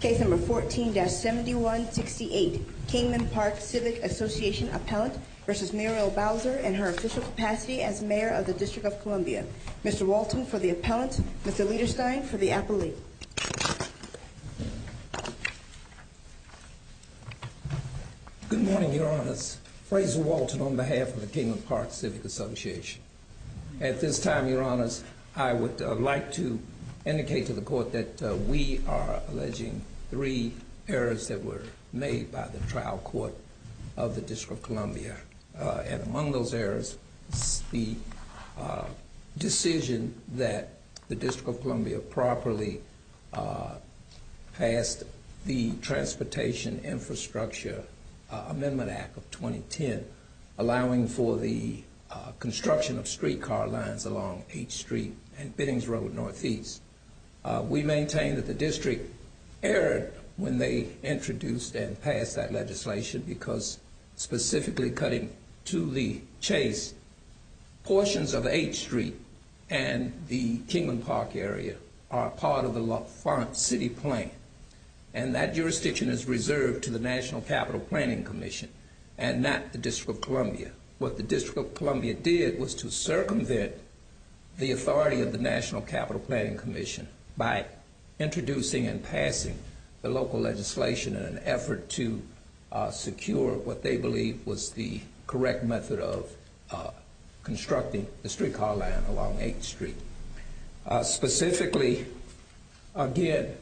Case number 14-7168, Kingman Park Civic Association Appellant v. Muriel Bowser in her official capacity as Mayor of the District of Columbia. Mr. Walton for the appellant, Mr. Lederstein for the appellate. Good morning, your honors. Fraser Walton on behalf of the Kingman Park Civic Association. At this time, your honors, I would like to indicate to the court that we are alleging three errors that were made by the trial court of the District of Columbia. And among those errors is the decision that the District of Columbia properly passed the Transportation Infrastructure Amendment Act of 2010, allowing for the construction of streetcar lines along H Street and Biddings Road Northeast. We maintain that the District erred when they introduced and passed that legislation because specifically cutting to the chase, portions of H Street and the Kingman Park area are part of the LaFont City Plan. And that jurisdiction is reserved to the National Capital Planning Commission and not the District of Columbia. What the District of Columbia did was to circumvent the authority of the National Capital Planning Commission by introducing and passing the local legislation in an effort to secure what they believed was the correct method of constructing the streetcar line along H Street. Specifically, again,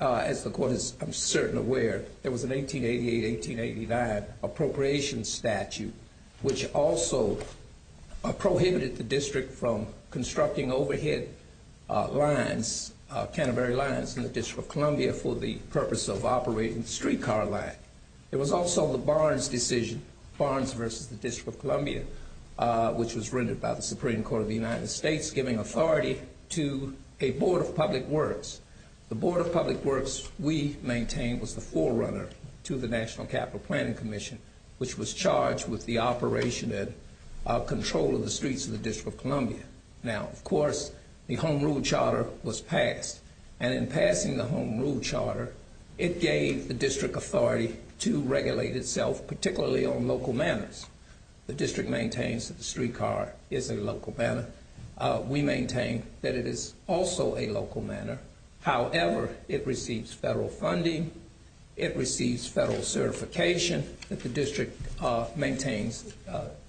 as the court is certain aware, there was an 1888-1889 appropriation statute which also prohibited the District from constructing overhead lines, Canterbury lines, in the District of Columbia for the purpose of operating the streetcar line. There was also the Barnes decision, Barnes versus the District of Columbia, which was rendered by the Supreme Court of the United States, giving authority to a Board of Public Works. The Board of Public Works, we maintain, was the forerunner to the National Capital Planning Commission, which was charged with the operation and control of the streets of the District of Columbia. Now, of course, the Home Rule Charter was passed. And in passing the Home Rule Charter, it gave the District authority to regulate itself, particularly on local manners. The District maintains that the streetcar is a local manner. We maintain that it is also a local manner. However, it receives federal funding. It receives federal certification that the District maintains.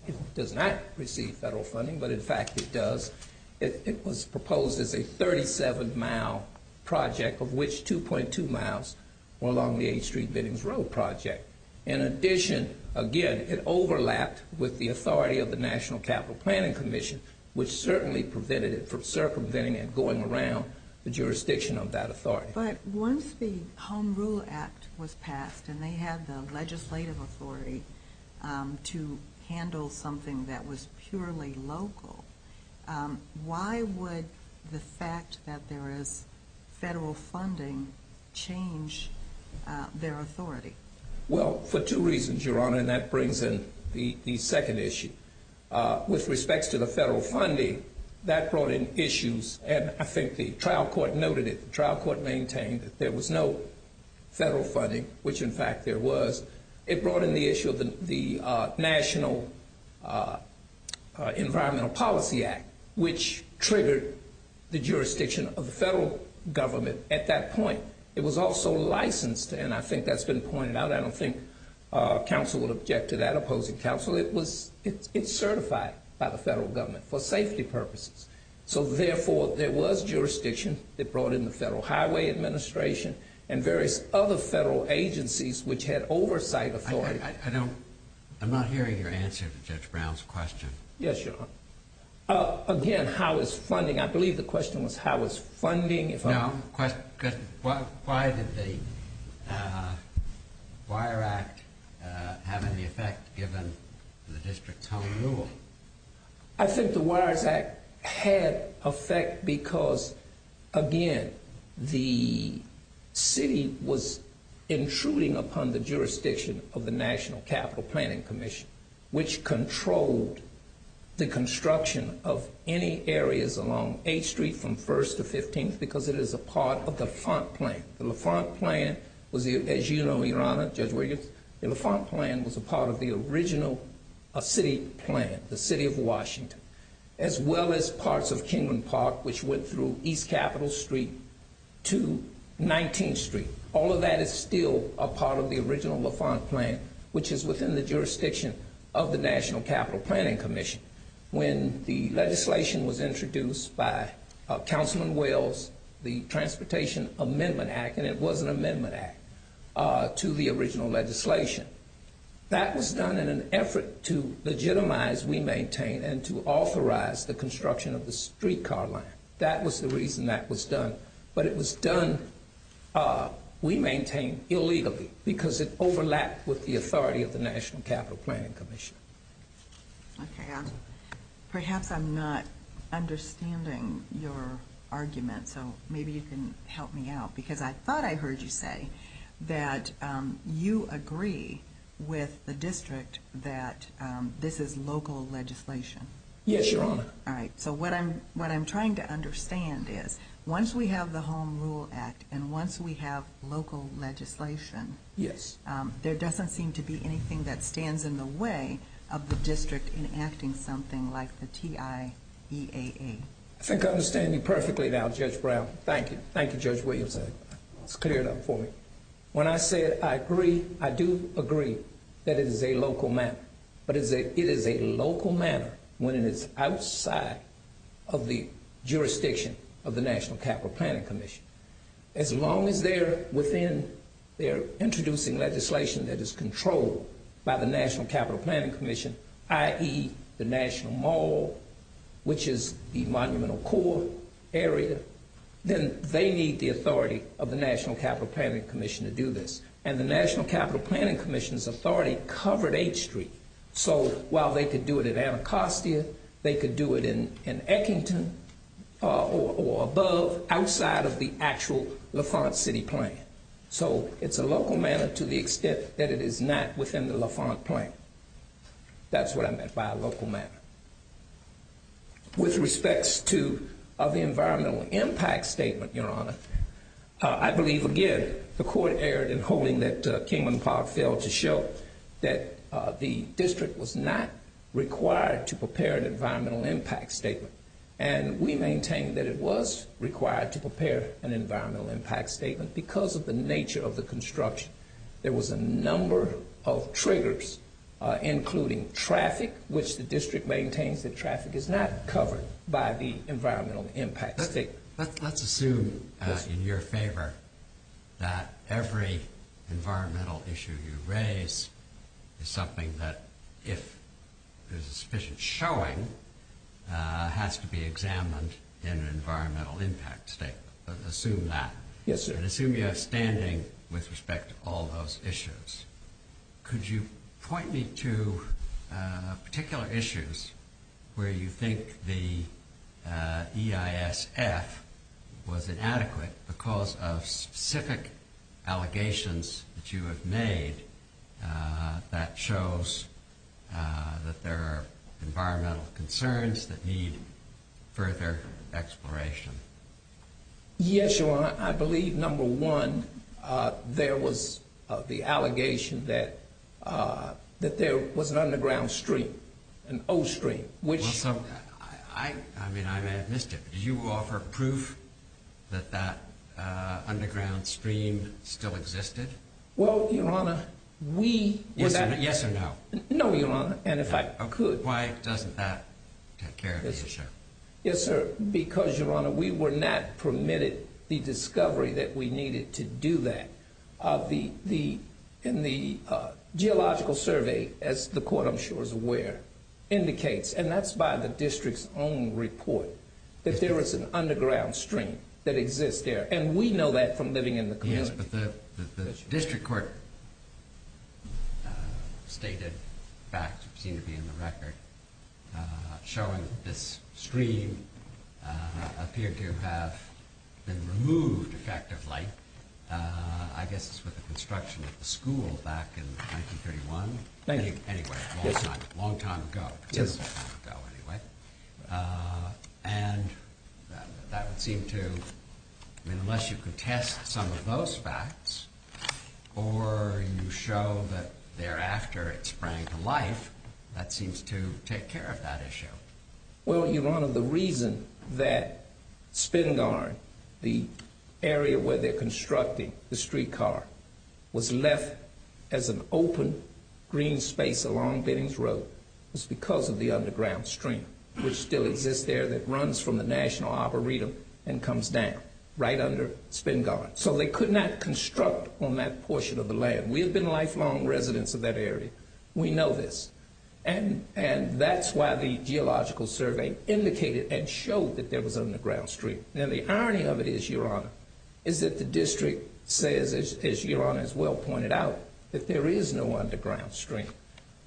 It does not receive federal funding, but in fact it does. It was proposed as a 37-mile project, of which 2.2 miles were along the H Street Biddings Road project. In addition, again, it overlapped with the authority of the National Capital Planning Commission, which certainly prevented it from circumventing and going around the jurisdiction of that authority. But once the Home Rule Act was passed and they had the legislative authority to handle something that was purely local, why would the fact that there is federal funding change their authority? Well, for two reasons, Your Honor, and that brings in the second issue. With respects to the federal funding, that brought in issues. And I think the trial court noted it. The trial court maintained that there was no federal funding, which in fact there was. It brought in the issue of the National Environmental Policy Act, which triggered the jurisdiction of the federal government at that point. It was also licensed, and I think that's been pointed out. I don't think counsel would object to that, opposing counsel. It's certified by the federal government for safety purposes. So therefore, there was jurisdiction that brought in the Federal Highway Administration and various other federal agencies which had oversight authority. I'm not hearing your answer to Judge Brown's question. Yes, Your Honor. Again, how is funding? I believe the question was how is funding? No, the question was why did the Wire Act have any effect given the district's home rule? I think the Wire Act had effect because, again, the city was intruding upon the jurisdiction of the National Capital Planning Commission, which controlled the construction of any areas along 8th Street from 1st to 15th because it is a part of the LaFont plan. The LaFont plan was, as you know, Your Honor, Judge Williams, the LaFont plan was a part of the original city plan, the city of Washington, as well as parts of Kingman Park, which went through East Capitol Street to 19th Street. All of that is still a part of the original LaFont plan, which is within the jurisdiction of the National Capital Planning Commission. When the legislation was introduced by Councilman Wells, the Transportation Amendment Act, and it was an amendment act to the original legislation, that was done in an effort to legitimize, we maintain, and to authorize the construction of the streetcar line. That was the reason that was done. But it was done, we maintain, illegally because it overlapped with the authority of the National Capital Planning Commission. Okay. Perhaps I'm not understanding your argument, so maybe you can help me out. Because I thought I heard you say that you agree with the district that this is local legislation. Yes, Your Honor. All right. So what I'm trying to understand is, once we have the Home Rule Act, and once we have local legislation, there doesn't seem to be anything that stands in the way of the district enacting something like the TIEAA. I think I understand you perfectly now, Judge Brown. Thank you. Thank you, Judge Williams. That's cleared up for me. When I said I agree, I do agree that it is a local matter. But it is a local matter when it is outside of the jurisdiction of the National Capital Planning Commission. As long as they're within, they're introducing legislation that is controlled by the National Capital Planning Commission, i.e., the National Mall, which is the Monumental Core area, then they need the authority of the National Capital Planning Commission to do this. And the National Capital Planning Commission's authority covered H Street. So while they could do it in Anacostia, they could do it in Ekington or above, outside of the actual LaFont City plan. So it's a local matter to the extent that it is not within the LaFont plan. That's what I meant by a local matter. With respects to the environmental impact statement, Your Honor, I believe, again, the court erred in holding that Kingman Park failed to show that the district was not required to prepare an environmental impact statement. And we maintain that it was required to prepare an environmental impact statement because of the nature of the construction. There was a number of triggers, including traffic, which the district maintains that traffic is not covered by the environmental impact statement. Let's assume, in your favor, that every environmental issue you raise is something that, if there's sufficient showing, has to be examined in an environmental impact statement. Assume that. Yes, sir. And assume you have standing with respect to all those issues. Could you point me to particular issues where you think the EISF was inadequate because of specific allegations that you have made that shows that there are environmental concerns that need further exploration? Yes, Your Honor. I believe, number one, there was the allegation that there was an underground stream, an old stream. I mean, I may have missed it, but did you offer proof that that underground stream still existed? Well, Your Honor, we... Yes or no? No, Your Honor. And if I could... Why doesn't that take care of the issue? Yes, sir. Because, Your Honor, we were not permitted the discovery that we needed to do that. In the geological survey, as the court, I'm sure, is aware, indicates, and that's by the district's own report, that there is an underground stream that exists there. And we know that from living in the community. Yes, but the district court stated facts that seem to be in the record showing that this stream appeared to have been removed effectively, I guess it's with the construction of the school back in 1931. Thank you. Anyway, a long time ago. Yes. Or you show that thereafter it sprang to life. That seems to take care of that issue. Well, Your Honor, the reason that Spingarn, the area where they're constructing the streetcar, was left as an open green space along Bennings Road was because of the underground stream, which still exists there, that runs from the National Arboretum and comes down right under Spingarn. So they could not construct on that portion of the land. We have been lifelong residents of that area. We know this. And that's why the geological survey indicated and showed that there was an underground stream. Now, the irony of it is, Your Honor, is that the district says, as Your Honor has well pointed out, that there is no underground stream.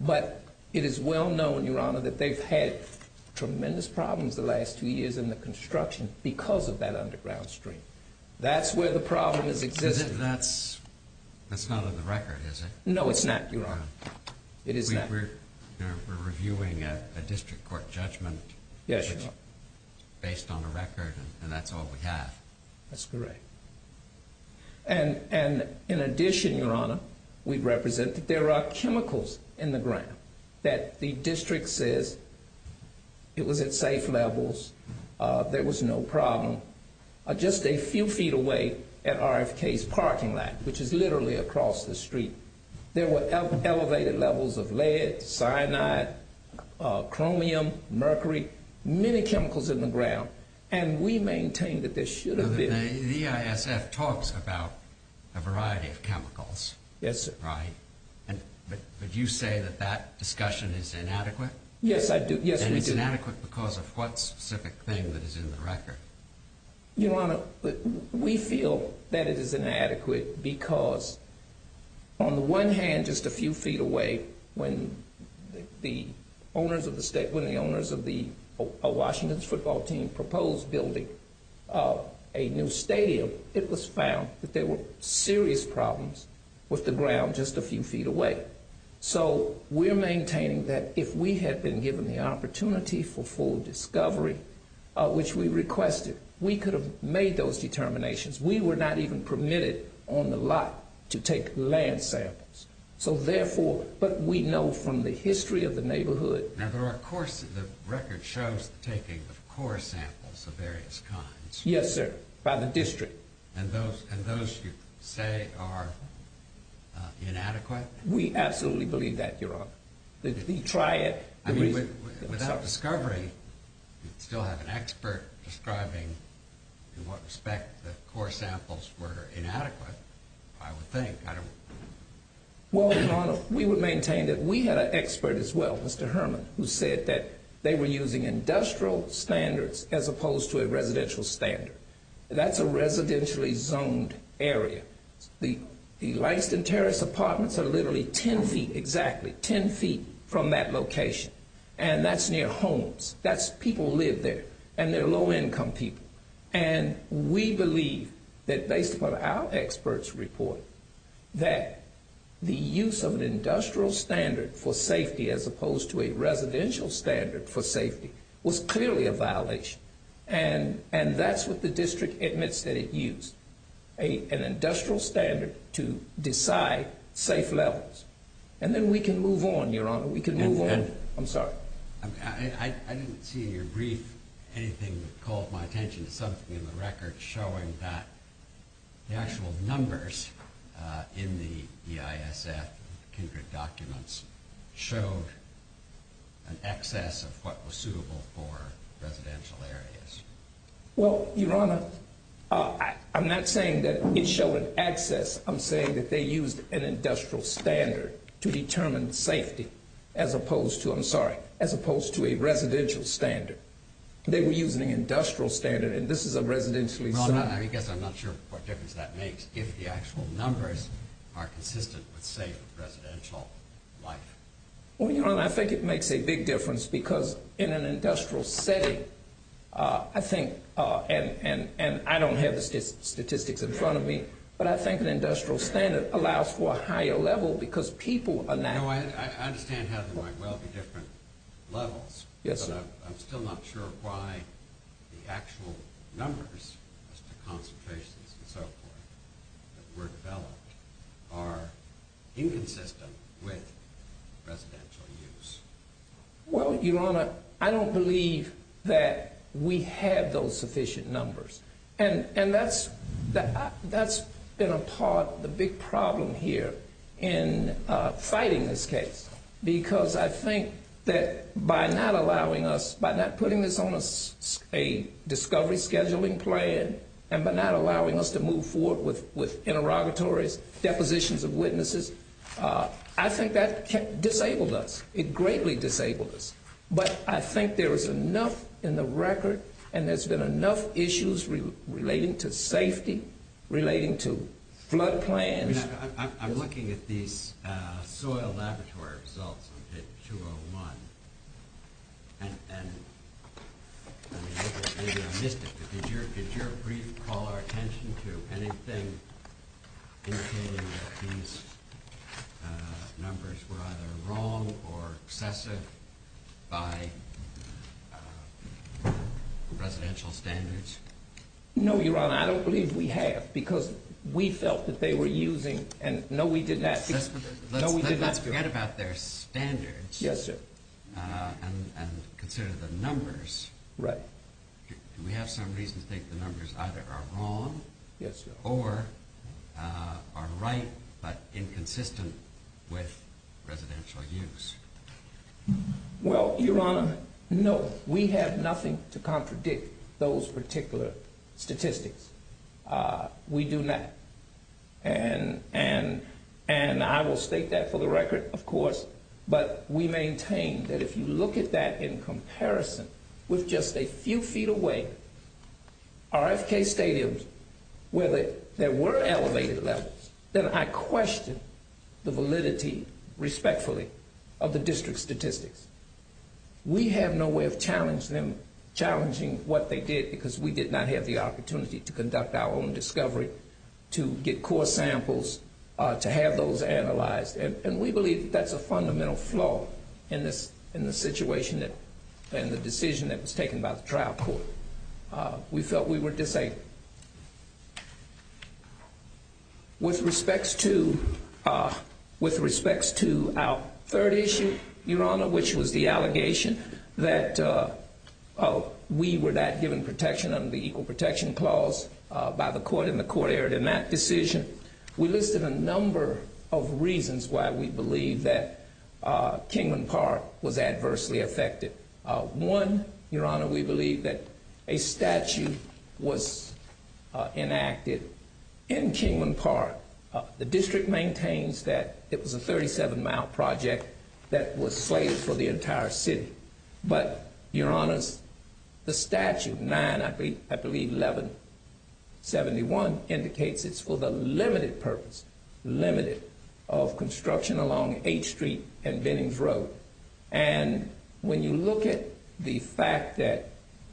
But it is well known, Your Honor, that they've had tremendous problems the last two years in the construction because of that underground stream. That's where the problem has existed. That's not on the record, is it? No, it's not, Your Honor. It is not. We're reviewing a district court judgment. Yes, Your Honor. Based on the record, and that's all we have. That's correct. And in addition, Your Honor, we represent that there are chemicals in the ground that the district says it was at safe levels, there was no problem, just a few feet away at RFK's parking lot, which is literally across the street. There were elevated levels of lead, cyanide, chromium, mercury, many chemicals in the ground. And we maintain that there should have been. Now, the EISF talks about a variety of chemicals. Yes, sir. Right? But you say that that discussion is inadequate? Yes, I do. Yes, we do. And it's inadequate because of what specific thing that is in the record? Your Honor, we feel that it is inadequate because on the one hand, just a few feet away, when the owners of the Washington football team proposed building a new stadium, it was found that there were serious problems with the ground just a few feet away. So we're maintaining that if we had been given the opportunity for full discovery, which we requested, we could have made those determinations. We were not even permitted on the lot to take land samples. So therefore, but we know from the history of the neighborhood. Now, there are, of course, the record shows the taking of core samples of various kinds. Yes, sir. By the district. And those you say are inadequate? We absolutely believe that, Your Honor. We try it. I mean, without discovery, you'd still have an expert describing in what respect the core samples were inadequate, I would think. Well, Your Honor, we would maintain that we had an expert as well, Mr. Herman, who said that they were using industrial standards as opposed to a residential standard. That's a residentially zoned area. The Lyston Terrace apartments are literally 10 feet exactly, 10 feet from that location. And that's near homes. That's people live there. And they're low income people. And we believe that based upon our experts report that the use of an industrial standard for safety as opposed to a residential standard for safety was clearly a violation. And that's what the district admits that it used. An industrial standard to decide safe levels. And then we can move on, Your Honor. We can move on. I'm sorry. I didn't see in your brief anything that called my attention to something in the record showing that the actual numbers in the EISF documents showed an excess of what was suitable for residential areas. Well, Your Honor, I'm not saying that it showed an excess. I'm saying that they used an industrial standard to determine safety as opposed to, I'm sorry, as opposed to a residential standard. They were using an industrial standard. And this is a residentially zoned area. Well, Your Honor, I guess I'm not sure what difference that makes if the actual numbers are consistent with, say, residential life. Well, Your Honor, I think it makes a big difference because in an industrial setting, I think, and I don't have the statistics in front of me, but I think an industrial standard allows for a higher level because people are now. I understand how there might well be different levels. Yes, sir. Your Honor, I'm still not sure why the actual numbers as to concentrations and so forth that were developed are inconsistent with residential use. Well, Your Honor, I don't believe that we have those sufficient numbers. And that's been a part of the big problem here in fighting this case because I think that by not allowing us, by not putting this on a discovery scheduling plan and by not allowing us to move forward with interrogatories, depositions of witnesses, I think that disabled us. It greatly disabled us. But I think there is enough in the record and there's been enough issues relating to safety, relating to flood plans. I mean, I'm looking at these soil laboratory results on pit 201 and I missed it, but did your brief call our attention to anything indicating that these numbers were either wrong or excessive by residential standards? No, Your Honor, I don't believe we have because we felt that they were using and no, we did not. Let's forget about their standards. Yes, sir. And consider the numbers. Right. We have some reason to think the numbers either are wrong or are right but inconsistent with residential use. Well, Your Honor, no, we have nothing to contradict those particular statistics. We do not. And I will state that for the record, of course, but we maintain that if you look at that in comparison with just a few feet away, RFK stadiums where there were elevated levels, then I question the validity, respectfully, of the district statistics. We have no way of challenging what they did because we did not have the opportunity to conduct our own discovery, to get core samples, to have those analyzed, and we believe that's a fundamental flaw in the situation and the decision that was taken by the trial court. We felt we were disabling. With respects to our third issue, Your Honor, which was the allegation that we were not given protection under the Equal Protection Clause by the court and the court erred in that decision, we listed a number of reasons why we believe that Kingman Park was adversely affected. One, Your Honor, we believe that a statute was enacted in Kingman Park. The district maintains that it was a 37-mile project that was slated for the entire city. But, Your Honors, the statute, 9, I believe, 1171, indicates it's for the limited purpose, limited, of construction along 8th Street and Bennings Road. And when you look at the fact that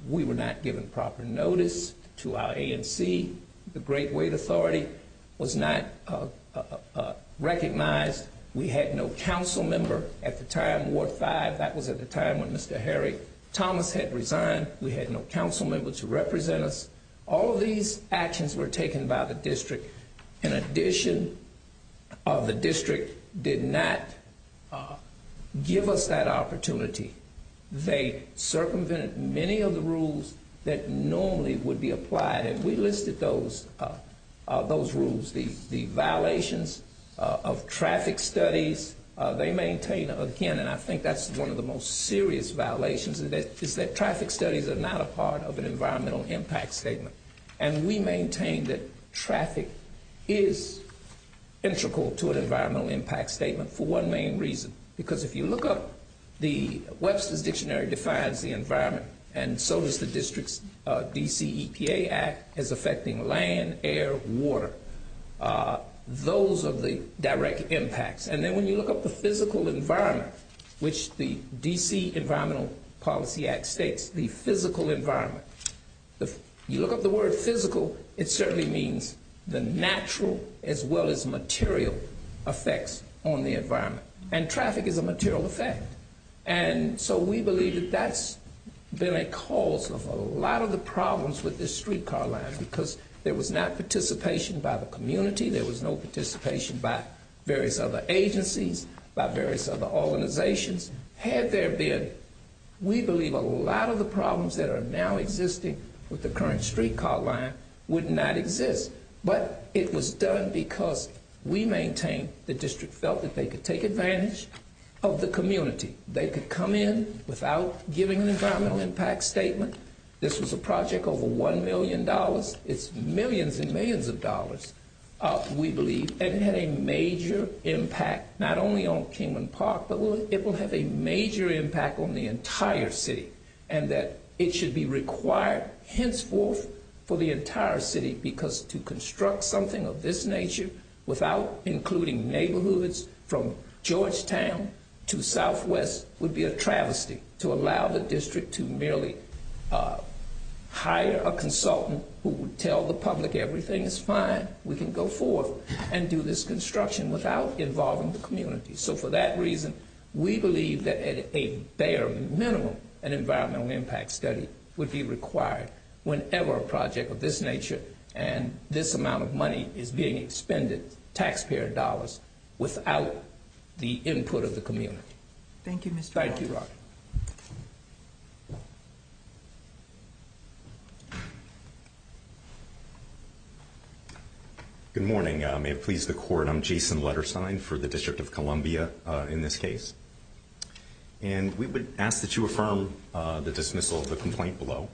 we were not given proper notice to our ANC, the Great Wait Authority, was not recognized. We had no council member at the time, Ward 5, that was at the time when Mr. Harry Thomas had resigned. We had no council member to represent us. All of these actions were taken by the district. In addition, the district did not give us that opportunity. They circumvented many of the rules that normally would be applied, and we listed those rules. The violations of traffic studies, they maintain, again, and I think that's one of the most serious violations, is that traffic studies are not a part of an environmental impact statement. And we maintain that traffic is integral to an environmental impact statement for one main reason. Because if you look up, the Webster's Dictionary defines the environment, and so does the district's DCEPA Act as affecting land, air, water. Those are the direct impacts. And then when you look up the physical environment, which the D.C. Environmental Policy Act states, the physical environment, you look up the word physical, it certainly means the natural as well as material effects on the environment. And traffic is a material effect. And so we believe that that's been a cause of a lot of the problems with the streetcar lines, because there was not participation by the community, there was no participation by various other agencies, by various other organizations. Had there been, we believe a lot of the problems that are now existing with the current streetcar line would not exist. But it was done because we maintain the district felt that they could take advantage of the community. They could come in without giving an environmental impact statement. This was a project over $1 million, it's millions and millions of dollars, we believe, and it had a major impact not only on Kingman Park, but it will have a major impact on the entire city, and that it should be required henceforth for the entire city, because to construct something of this nature without including neighborhoods from Georgetown to Southwest would be a travesty to allow the district to merely hire a consultant who would tell the public everything is fine, we can go forth and do this construction without involving the community. So for that reason, we believe that at a bare minimum, an environmental impact study would be required whenever a project of this nature and this amount of money is being expended, taxpayer dollars, without the input of the community. Thank you, Mr. Rogers. Good morning. May it please the court, I'm Jason Letterstein for the District of Columbia in this case. And we would ask that you affirm the dismissal of the complaint below.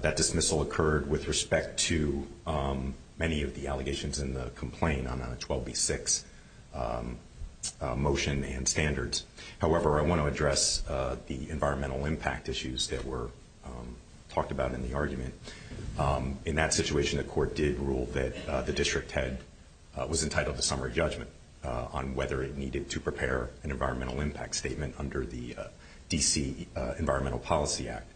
That dismissal occurred with respect to many of the allegations in the complaint on a 12B6 motion and standards. However, I want to address the environmental impact issues that were talked about in the argument. In that situation, the court did rule that the district head was entitled to summary judgment on whether it needed to prepare an environmental impact statement under the D.C. Environmental Policy Act.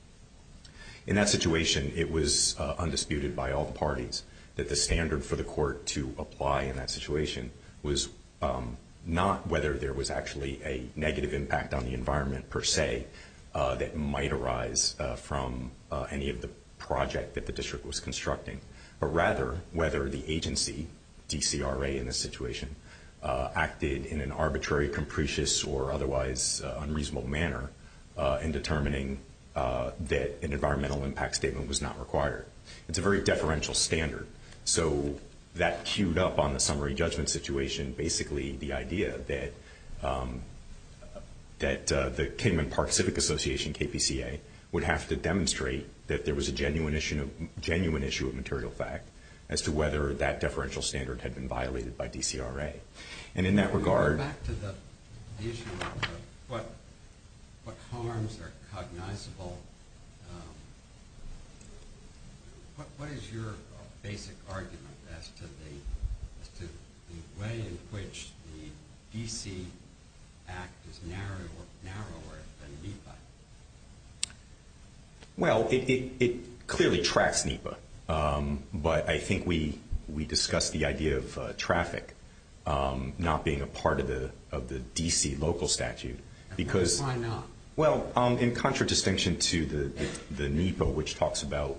In that situation, it was undisputed by all the parties that the standard for the court to apply in that situation was not whether there was actually a negative impact on the environment per se that might arise from any of the project that the district was constructing, but rather whether the agency, DCRA in this situation, acted in an arbitrary, capricious, or otherwise unreasonable manner in determining that an environmental impact statement was not required. It's a very deferential standard. So that queued up on the summary judgment situation, basically the idea that the Cayman Park Civic Association, KPCA, would have to demonstrate that there was a genuine issue of material fact as to whether that deferential standard had been violated by DCRA. And in that regard... What harms are cognizable? What is your basic argument as to the way in which the D.C. Act is narrower than NEPA? Well, it clearly tracks NEPA. But I think we discussed the idea of traffic not being a part of the D.C. local statute because... Why not? Well, in contradistinction to the NEPA, which talks about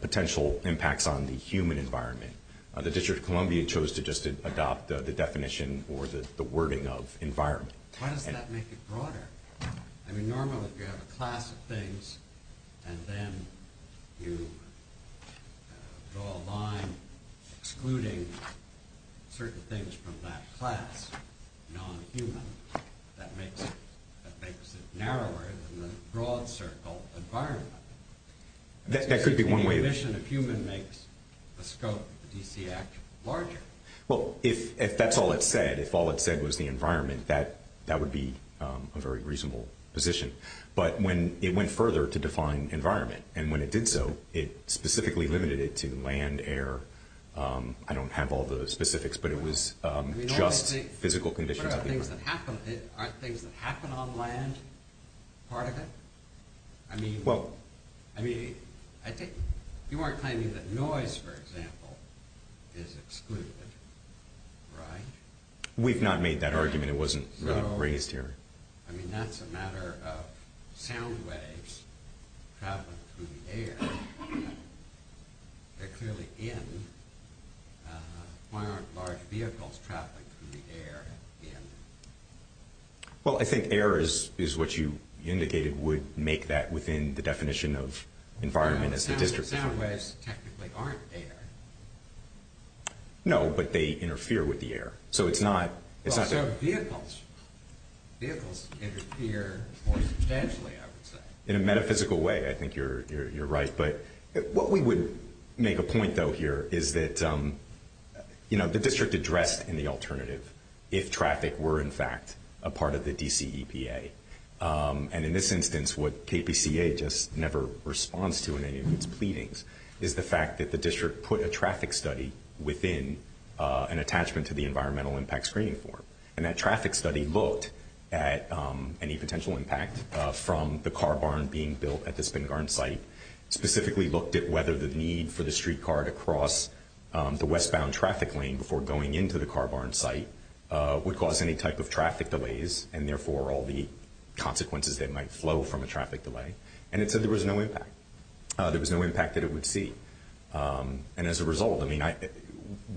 potential impacts on the human environment, the District of Columbia chose to just adopt the definition or the wording of environment. Why does that make it broader? I mean, normally if you have a class of things and then you draw a line excluding certain things from that class, non-human, that makes it narrower than the broad circle environment. That could be one way of... Any omission of human makes the scope of the D.C. Act larger. Well, if that's all it said, if all it said was the environment, that would be a very reasonable position. But it went further to define environment. And when it did so, it specifically limited it to land, air. I don't have all the specifics, but it was just physical conditions of the environment. Aren't things that happen on land part of it? I mean, you weren't claiming that noise, for example, is excluded, right? We've not made that argument. It wasn't raised here. I mean, that's a matter of sound waves traveling through the air. They're clearly in. Why aren't large vehicles traveling through the air in? Well, I think air is what you indicated would make that within the definition of environment as a district. Sound waves technically aren't air. No, but they interfere with the air. So vehicles interfere more substantially, I would say. In a metaphysical way, I think you're right. But what we would make a point, though, here, is that the district addressed in the alternative if traffic were, in fact, a part of the DCEPA. And in this instance, what KPCA just never responds to in any of its pleadings is the fact that the district put a traffic study within an attachment to the environmental impact screening form. And that traffic study looked at any potential impact from the car barn being built at the Spingarn site, specifically looked at whether the need for the streetcar to cross the westbound traffic lane before going into the car barn site would cause any type of traffic delays, and therefore all the consequences that might flow from a traffic delay. And it said there was no impact. There was no impact that it would see. And as a result, I mean,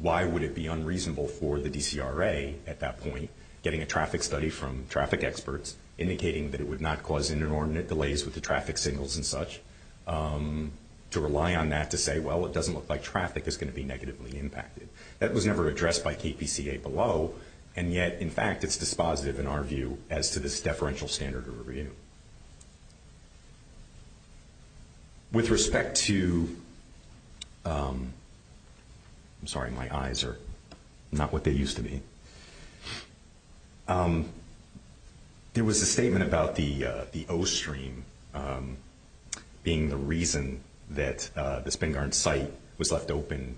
why would it be unreasonable for the DCRA at that point, getting a traffic study from traffic experts, indicating that it would not cause inordinate delays with the traffic signals and such, to rely on that to say, well, it doesn't look like traffic is going to be negatively impacted. That was never addressed by KPCA below. And yet, in fact, it's dispositive in our view as to this deferential standard review. With respect to ‑‑ I'm sorry, my eyes are not what they used to be. There was a statement about the O stream being the reason that the Spingarn site was left open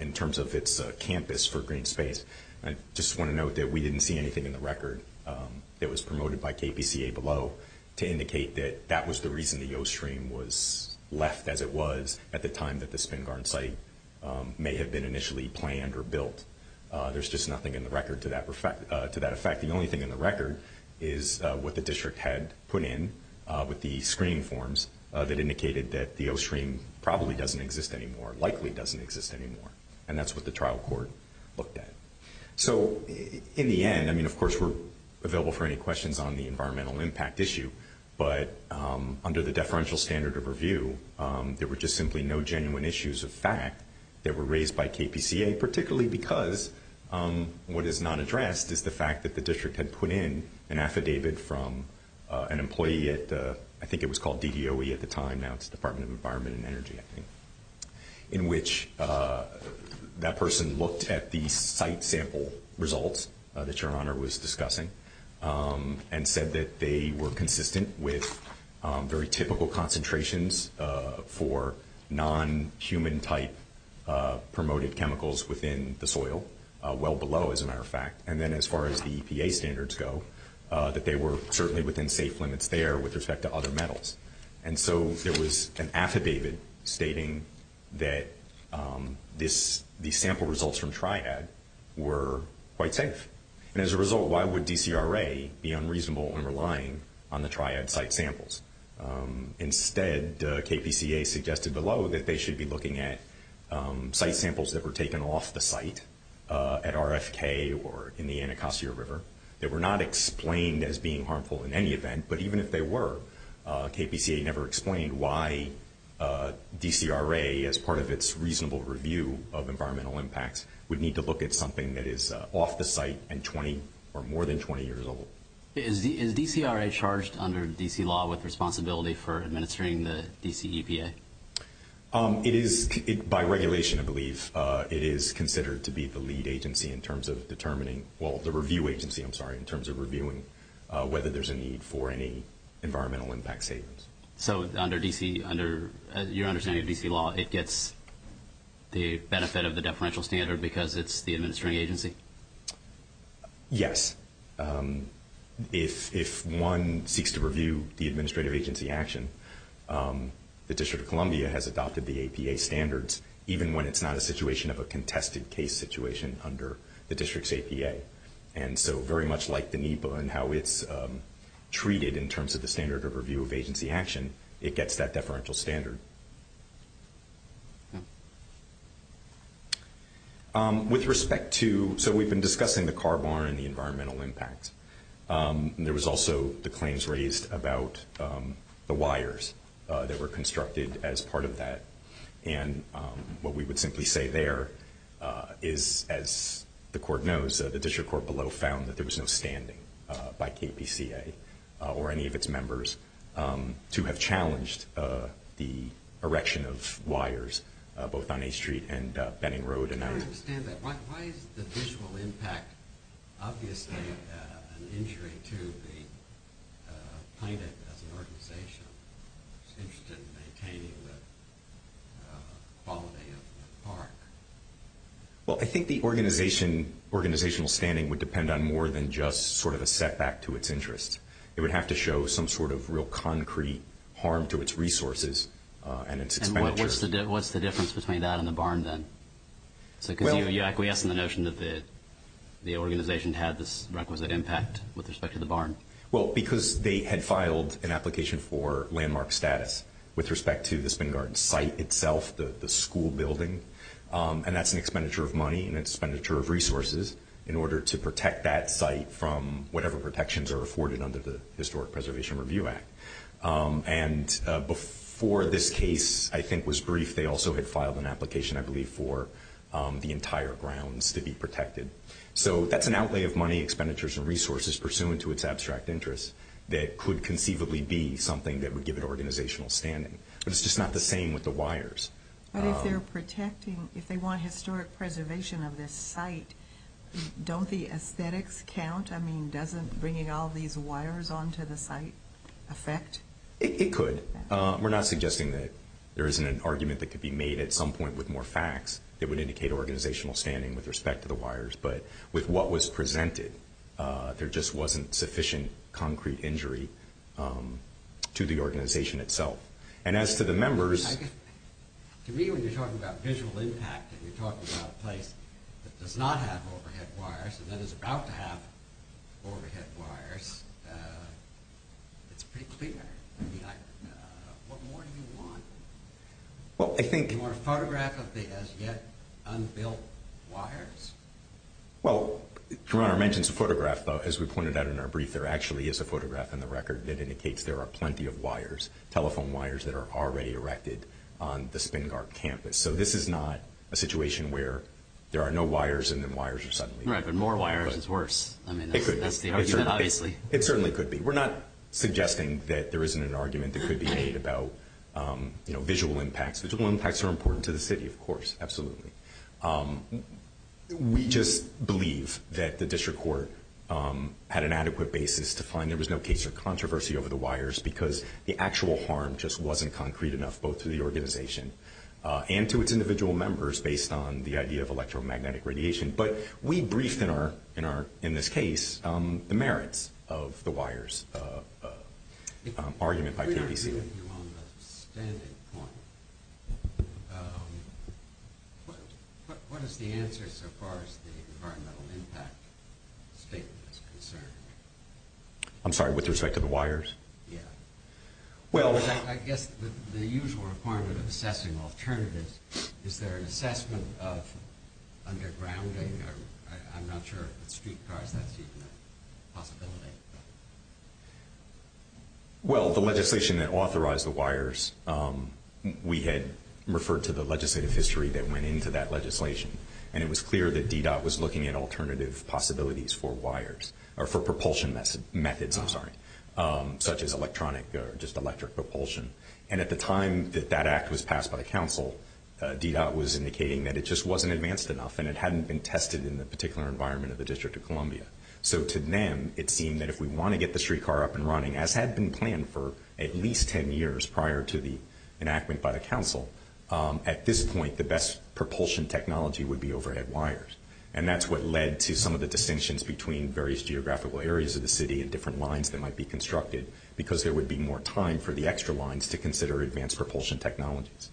in terms of its campus for green space. I just want to note that we didn't see anything in the record that was promoted by KPCA below to indicate that that was the reason the O stream was left as it was at the time that the Spingarn site may have been initially planned or built. There's just nothing in the record to that effect. The only thing in the record is what the district had put in with the screening forms that indicated that the O stream probably doesn't exist anymore, likely doesn't exist anymore. And that's what the trial court looked at. So, in the end, I mean, of course, we're available for any questions on the environmental impact issue, but under the deferential standard of review, there were just simply no genuine issues of fact that were raised by KPCA, particularly because what is not addressed is the fact that the district had put in an affidavit from an employee at the ‑‑ I think it was called DDOE at the time, now it's the Department of Environment and Energy, I think, in which that person looked at the site sample results that your Honor was discussing and said that they were consistent with very typical concentrations for non‑human type promoted chemicals within the soil, well below as a matter of fact. And then as far as the EPA standards go, that they were certainly within safe limits there with respect to other metals. And so there was an affidavit stating that these sample results from TRIAD were quite safe. And as a result, why would DCRA be unreasonable in relying on the TRIAD site samples? Instead, KPCA suggested below that they should be looking at site samples that were taken off the site at RFK or in the Anacostia River that were not explained as being harmful in any event, but even if they were, KPCA never explained why DCRA, as part of its reasonable review of environmental impacts, would need to look at something that is off the site and 20 or more than 20 years old. Is DCRA charged under D.C. law with responsibility for administering the D.C. EPA? It is, by regulation I believe, it is considered to be the lead agency in terms of determining, well, the review agency, I'm sorry, in terms of reviewing whether there's a need for any environmental impact savings. So under D.C., under your understanding of D.C. law, it gets the benefit of the deferential standard because it's the administering agency? Yes. If one seeks to review the administrative agency action, the District of Columbia has adopted the APA standards, even when it's not a situation of a contested case situation under the district's APA, and so very much like the NEPA and how it's treated in terms of the standard of review of agency action, it gets that deferential standard. Thank you. With respect to, so we've been discussing the car barn and the environmental impact. There was also the claims raised about the wires that were constructed as part of that, and what we would simply say there is, as the court knows, the district court below found that there was no standing by KPCA or any of its members to have challenged the erection of wires, both on A Street and Benning Road and out. I understand that. Why is the visual impact obviously an injury to the climate as an organization that's interested in maintaining the quality of the park? Well, I think the organizational standing would depend on more than just sort of a setback to its interest. It would have to show some sort of real concrete harm to its resources and its expenditure. And what's the difference between that and the barn then? Because you're acquiescing to the notion that the organization had this requisite impact with respect to the barn. Well, because they had filed an application for landmark status with respect to the Spinning Garden site itself, the school building, and that's an expenditure of money and an expenditure of resources in order to protect that site from whatever protections are afforded under the Historic Preservation Review Act. And before this case, I think, was briefed, they also had filed an application, I believe, for the entire grounds to be protected. So that's an outlay of money, expenditures, and resources pursuant to its abstract interests that could conceivably be something that would give it organizational standing. But it's just not the same with the wires. But if they're protecting, if they want historic preservation of this site, don't the aesthetics count? I mean, doesn't bringing all these wires onto the site affect? It could. We're not suggesting that there isn't an argument that could be made at some point with more facts that would indicate organizational standing with respect to the wires. But with what was presented, there just wasn't sufficient concrete injury to the organization itself. And as to the members. To me, when you're talking about visual impact and you're talking about a place that does not have overhead wires and that is about to have overhead wires, it's pretty clear. What more do you want? Well, I think. You want a photograph of the as yet unbuilt wires? Well, Your Honor mentions a photograph, but as we pointed out in our brief, there actually is a photograph in the record that indicates there are plenty of wires, telephone wires that are already erected on the Spingard campus. So this is not a situation where there are no wires and then wires are suddenly. Right, but more wires is worse. I mean, that's the argument, obviously. It certainly could be. We're not suggesting that there isn't an argument that could be made about visual impacts. Visual impacts are important to the city, of course. Absolutely. We just believe that the district court had an adequate basis to find there was no case of controversy over the wires because the actual harm just wasn't concrete enough both to the organization and to its individual members based on the idea of electromagnetic radiation. But we briefed, in this case, the merits of the wires argument by TPC. If we could agree with you on the standing point, what is the answer so far as the environmental impact statement is concerned? I'm sorry, with respect to the wires? Yeah. I guess the usual requirement of assessing alternatives is there an assessment of underground I'm not sure if it's streetcars, that's even a possibility. Well, the legislation that authorized the wires, we had referred to the legislative history that went into that legislation, and it was clear that DDOT was looking at alternative possibilities for wires, or for propulsion methods, I'm sorry, such as electronic or just electric propulsion. And at the time that that act was passed by the council, DDOT was indicating that it just wasn't advanced enough and it hadn't been tested in the particular environment of the District of Columbia. So to them, it seemed that if we want to get the streetcar up and running, as had been planned for at least 10 years prior to the enactment by the council, at this point the best propulsion technology would be overhead wires. And that's what led to some of the distinctions between various geographical areas of the city and different lines that might be constructed because there would be more time for the extra lines to consider advanced propulsion technologies.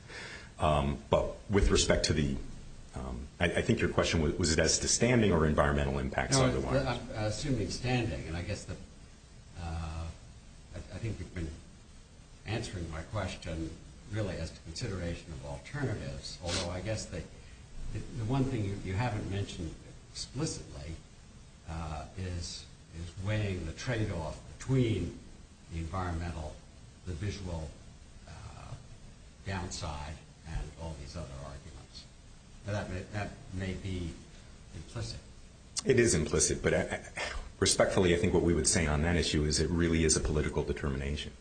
But with respect to the, I think your question, was it as to standing or environmental impacts of the wires? No, I'm assuming standing, and I guess the, I think you've been answering my question really as to consideration of alternatives, although I guess the one thing you haven't mentioned explicitly is weighing the tradeoff between the environmental, the visual downside, and all these other arguments. That may be implicit. It is implicit, but respectfully I think what we would say on that issue is it really is a political determination.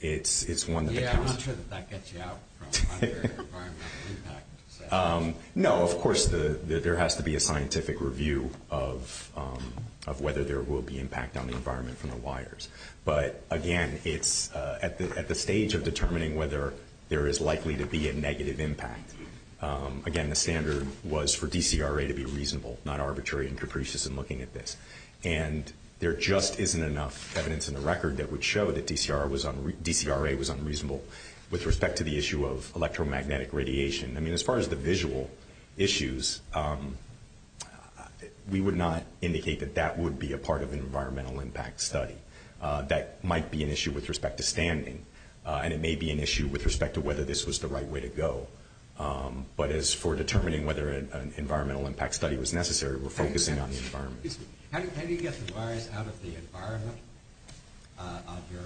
It's one that the council... Yeah, I'm not sure that that gets you out from under environmental impact. No, of course there has to be a scientific review of whether there will be impact on the environment from the wires. But again, it's at the stage of determining whether there is likely to be a negative impact. Again, the standard was for DCRA to be reasonable, not arbitrary and capricious in looking at this. And there just isn't enough evidence in the record that would show that DCRA was unreasonable with respect to the issue of electromagnetic radiation. I mean, as far as the visual issues, we would not indicate that that would be a part of an environmental impact study. That might be an issue with respect to standing, and it may be an issue with respect to whether this was the right way to go. But as for determining whether an environmental impact study was necessary, we're focusing on the environment. Excuse me. How do you get the wires out of the environment of your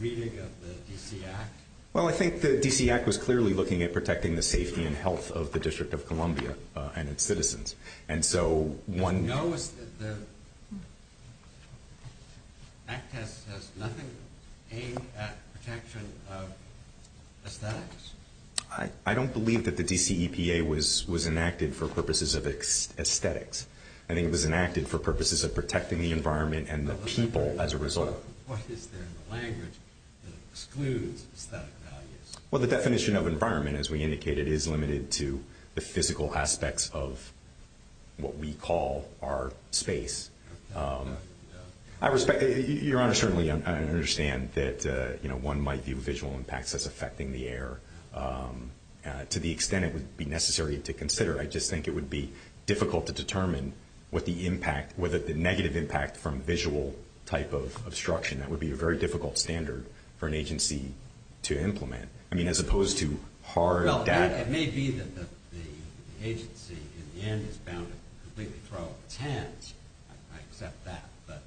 reading of the DC Act? Well, I think the DC Act was clearly looking at protecting the safety and health of the District of Columbia and its citizens. And so one… No, the Act has nothing aimed at protection of aesthetics. I don't believe that the DCEPA was enacted for purposes of aesthetics. I think it was enacted for purposes of protecting the environment and the people as a result. What is there in the language that excludes aesthetic values? Well, the definition of environment, as we indicated, is limited to the physical aspects of what we call our space. Your Honor, certainly I understand that one might view visual impacts as affecting the air to the extent it would be necessary to consider. I just think it would be difficult to determine what the impact, whether the negative impact from visual type of obstruction. That would be a very difficult standard for an agency to implement. I mean, as opposed to hard data. Well, it may be that the agency in the end is bound to completely throw up its hands. I accept that. But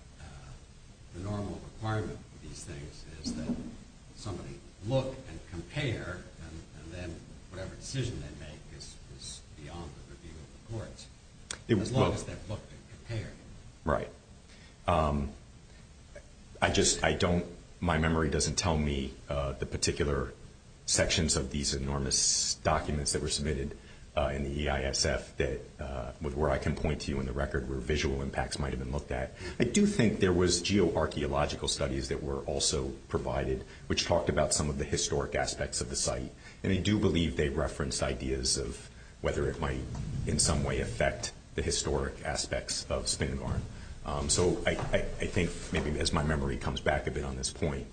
the normal requirement for these things is that somebody look and compare, and then whatever decision they make is beyond the review of the courts. As long as they look and compare. Right. I just, I don't, my memory doesn't tell me the particular sections of these enormous documents that were submitted in the EISF where I can point to you in the record where visual impacts might have been looked at. I do think there was geoarchaeological studies that were also provided, which talked about some of the historic aspects of the site. And I do believe they referenced ideas of whether it might in some way affect the historic aspects of Spingarn. So I think maybe as my memory comes back a bit on this point,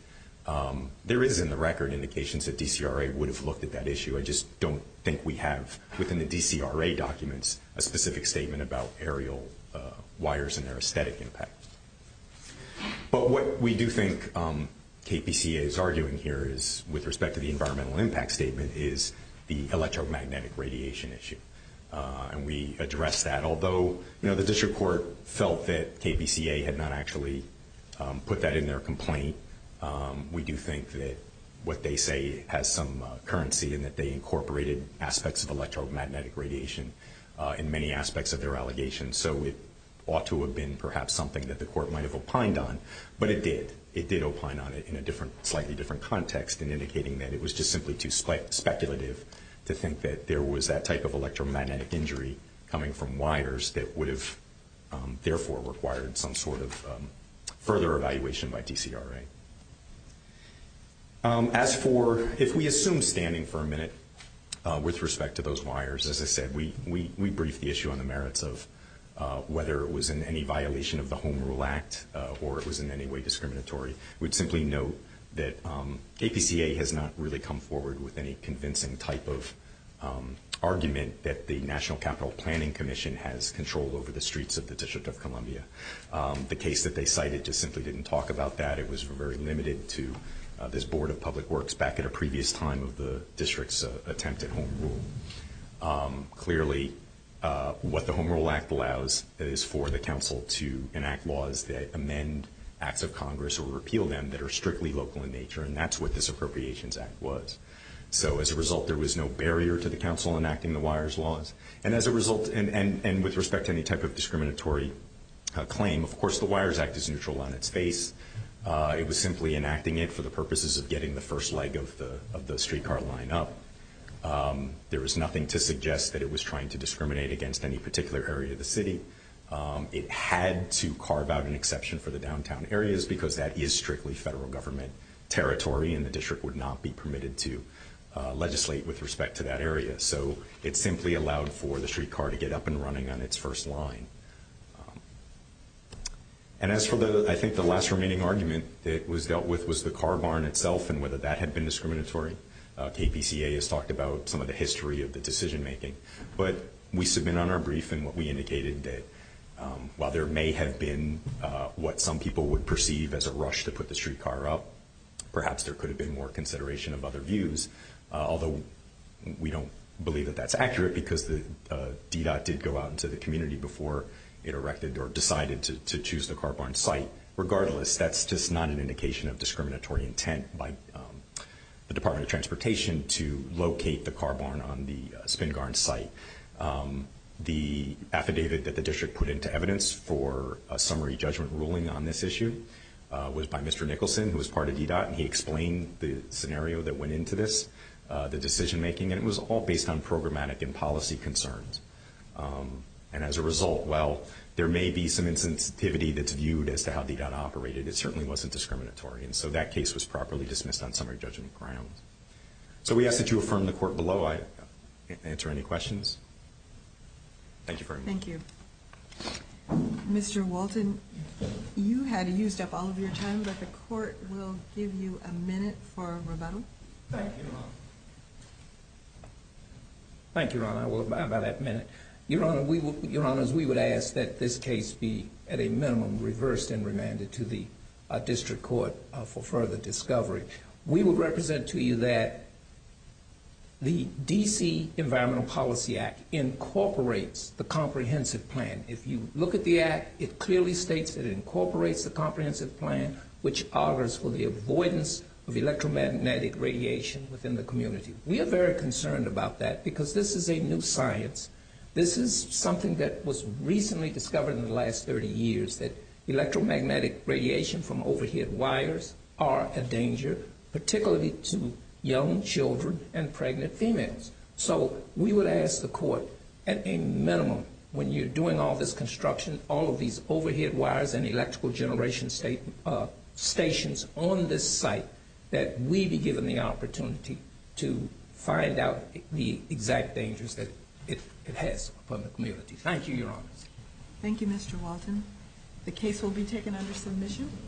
there is in the record indications that DCRA would have looked at that issue. I just don't think we have, within the DCRA documents, a specific statement about aerial wires and their aesthetic impact. But what we do think KPCA is arguing here is, with respect to the environmental impact statement, is the electromagnetic radiation issue. And we address that. Although, you know, the district court felt that KPCA had not actually put that in their complaint, we do think that what they say has some currency in that they incorporated aspects of electromagnetic radiation in many aspects of their allegations. So it ought to have been perhaps something that the court might have opined on. But it did. It did opine on it in a different, slightly different context in indicating that it was just simply too speculative to think that there was that type of electromagnetic injury coming from wires that would have, therefore, required some sort of further evaluation by DCRA. As for if we assume standing for a minute with respect to those wires, as I said, we briefed the issue on the merits of whether it was in any violation of the Home Rule Act or it was in any way discriminatory. I would simply note that KPCA has not really come forward with any convincing type of argument that the National Capital Planning Commission has control over the streets of the District of Columbia. The case that they cited just simply didn't talk about that. It was very limited to this Board of Public Works back at a previous time of the district's attempt at Home Rule. Clearly, what the Home Rule Act allows is for the council to enact laws that amend acts of Congress or repeal them that are strictly local in nature, and that's what this Appropriations Act was. So as a result, there was no barrier to the council enacting the wires laws. And as a result, and with respect to any type of discriminatory claim, of course, the wires act is neutral on its face. It was simply enacting it for the purposes of getting the first leg of the streetcar line up. There was nothing to suggest that it was trying to discriminate against any particular area of the city. It had to carve out an exception for the downtown areas because that is strictly federal government territory and the district would not be permitted to legislate with respect to that area. So it simply allowed for the streetcar to get up and running on its first line. And as for the, I think the last remaining argument that was dealt with was the car barn itself and whether that had been discriminatory. KPCA has talked about some of the history of the decision making. But we submit on our brief and what we indicated that while there may have been what some people would perceive as a rush to put the streetcar up, perhaps there could have been more consideration of other views. Although we don't believe that that's accurate because the DDOT did go out into the community before it erected or decided to choose the car barn site. Regardless, that's just not an indication of discriminatory intent by the Department of Transportation to locate the car barn on the Spingarn site. The affidavit that the district put into evidence for a summary judgment ruling on this issue was by Mr. Nicholson who was part of DDOT and he explained the scenario that went into this, the decision making, and it was all based on programmatic and policy concerns. And as a result, while there may be some insensitivity that's viewed as to how DDOT operated, it certainly wasn't discriminatory. And so that case was properly dismissed on summary judgment grounds. So we ask that you affirm the court below. I answer any questions. Thank you very much. Thank you. Mr. Walton, you had used up all of your time, but the court will give you a minute for rebuttal. Thank you, Your Honor. Thank you, Your Honor. I will abide by that minute. Your Honor, we would ask that this case be at a minimum reversed and remanded to the district court for further discovery. We will represent to you that the D.C. Environmental Policy Act incorporates the comprehensive plan. If you look at the act, it clearly states that it incorporates the comprehensive plan, which augurs for the avoidance of electromagnetic radiation within the community. We are very concerned about that because this is a new science. This is something that was recently discovered in the last 30 years, that electromagnetic radiation from overhead wires are a danger, particularly to young children and pregnant females. So we would ask the court at a minimum, when you're doing all this construction, all of these overhead wires and electrical generation stations on this site, that we be given the opportunity to find out the exact dangers that it has for the community. Thank you, Your Honor. Thank you, Mr. Walton. The case will be taken under submission.